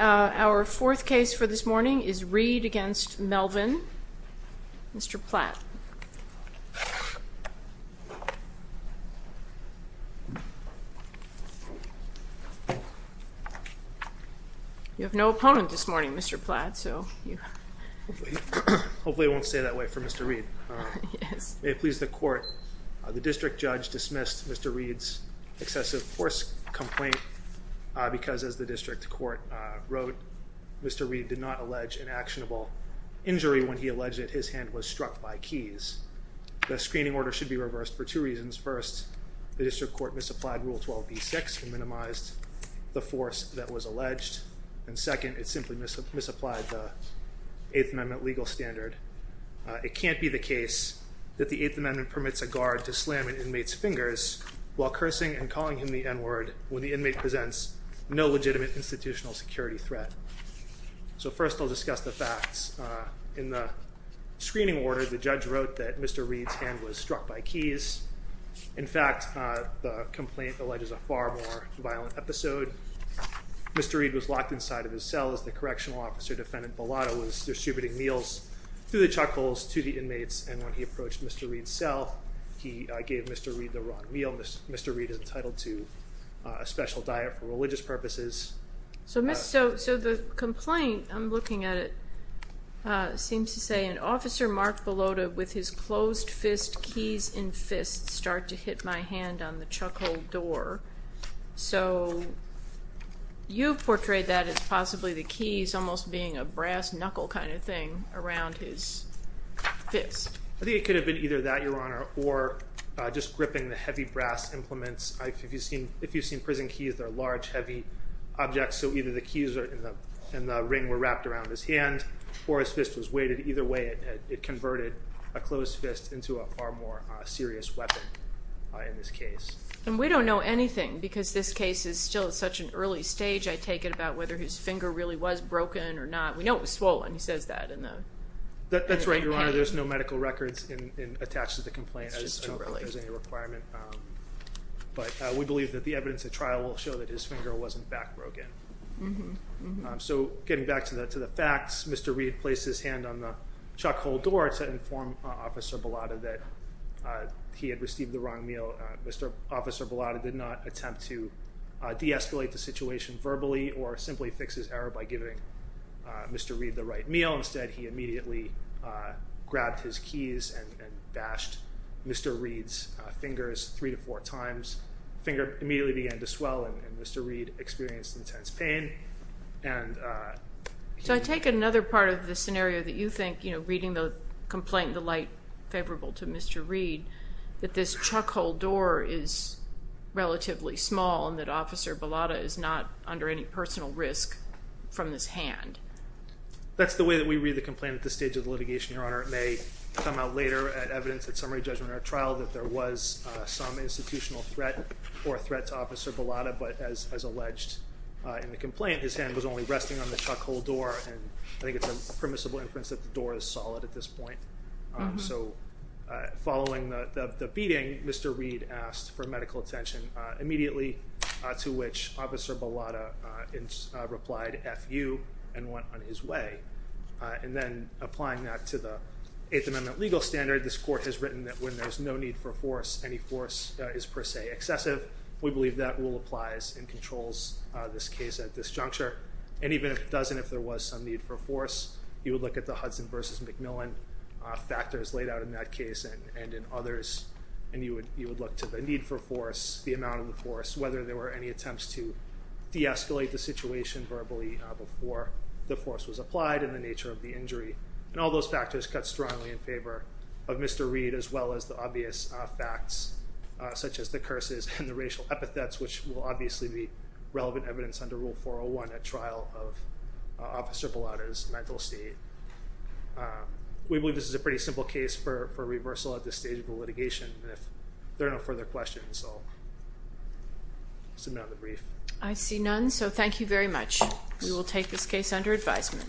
Our fourth case for this morning is Reid v. Melvin, Mr. Platt. You have no opponent this morning, Mr. Platt, so you... Hopefully it won't stay that way for Mr. Reid. Yes. May it please the court, the district judge dismissed Mr. Reid's excessive force complaint because as the district court wrote, Mr. Reid did not allege an actionable injury when he was struck by keys. The screening order should be reversed for two reasons. First, the district court misapplied Rule 12b-6 and minimized the force that was alleged. And second, it simply misapplied the Eighth Amendment legal standard. It can't be the case that the Eighth Amendment permits a guard to slam an inmate's fingers while cursing and calling him the N-word when the inmate presents no legitimate institutional security threat. So first I'll discuss the facts. In the screening order, the judge wrote that Mr. Reid's hand was struck by keys. In fact, the complaint alleges a far more violent episode. Mr. Reid was locked inside of his cell as the correctional officer defendant Bellotto was distributing meals through the chuck holes to the inmates and when he approached Mr. Reid's cell, he gave Mr. Reid the wrong meal. Mr. Reid is entitled to a special diet for religious purposes. So the complaint, I'm looking at it, seems to say an officer marked Bellotto with his closed fist, keys in fists, start to hit my hand on the chuck hole door. So you've portrayed that as possibly the keys almost being a brass knuckle kind of thing around his fist. I think it could have been either that, Your Honor, or just gripping the heavy brass implements. If you've seen prison keys, they're large, heavy objects, so either the keys in the ring were wrapped around his hand or his fist was weighted. Either way, it converted a closed fist into a far more serious weapon in this case. And we don't know anything because this case is still at such an early stage, I take it about whether his finger really was broken or not. We know it was swollen. He says that in the complaint. That's right, Your Honor. There's no medical records attached to the complaint. I don't know if there's any requirement, but we believe that the evidence at trial will show that his finger was in fact broken. So getting back to the facts, Mr. Reed placed his hand on the chuck hole door to inform Officer Bellotto that he had received the wrong meal. Mr. Officer Bellotto did not attempt to de-escalate the situation verbally or simply fix his error by giving Mr. Reed the right meal. Instead, he immediately grabbed his keys and bashed Mr. Reed's fingers three to four times. The finger immediately began to swell and Mr. Reed experienced intense pain. So I take it another part of the scenario that you think, you know, reading the complaint in the light favorable to Mr. Reed, that this chuck hole door is relatively small and that Officer Bellotto is not under any personal risk from this hand. That's the way that we read the complaint at this stage of the litigation, Your Honor. It may come out later at evidence at summary judgment at trial that there was some institutional threat or threat to Officer Bellotto, but as alleged in the complaint, his hand was only resting on the chuck hole door and I think it's a permissible inference that the door is solid at this point. So following the beating, Mr. Reed asked for medical attention immediately to which Officer Bellotto replied, F you, and went on his way. And then applying that to the Eighth Amendment legal standard, this court has written that when there's no need for force, any force is per se excessive. We believe that rule applies and controls this case at this juncture and even if it doesn't, if there was some need for force, you would look at the Hudson v. McMillan factors laid out in that case and in others and you would look to the need for force, the amount of force, whether there were any attempts to de-escalate the situation verbally before the force was applied and the nature of the injury. And all those factors cut strongly in favor of Mr. Reed as well as the obvious facts such as the curses and the racial epithets which will obviously be relevant evidence under Rule 401 at trial of Officer Bellotto's mental state. We believe this is a pretty simple case for reversal at this stage of the litigation and if there are no further questions, I'll submit on the brief. I see none, so thank you very much. We will take this case under advisement.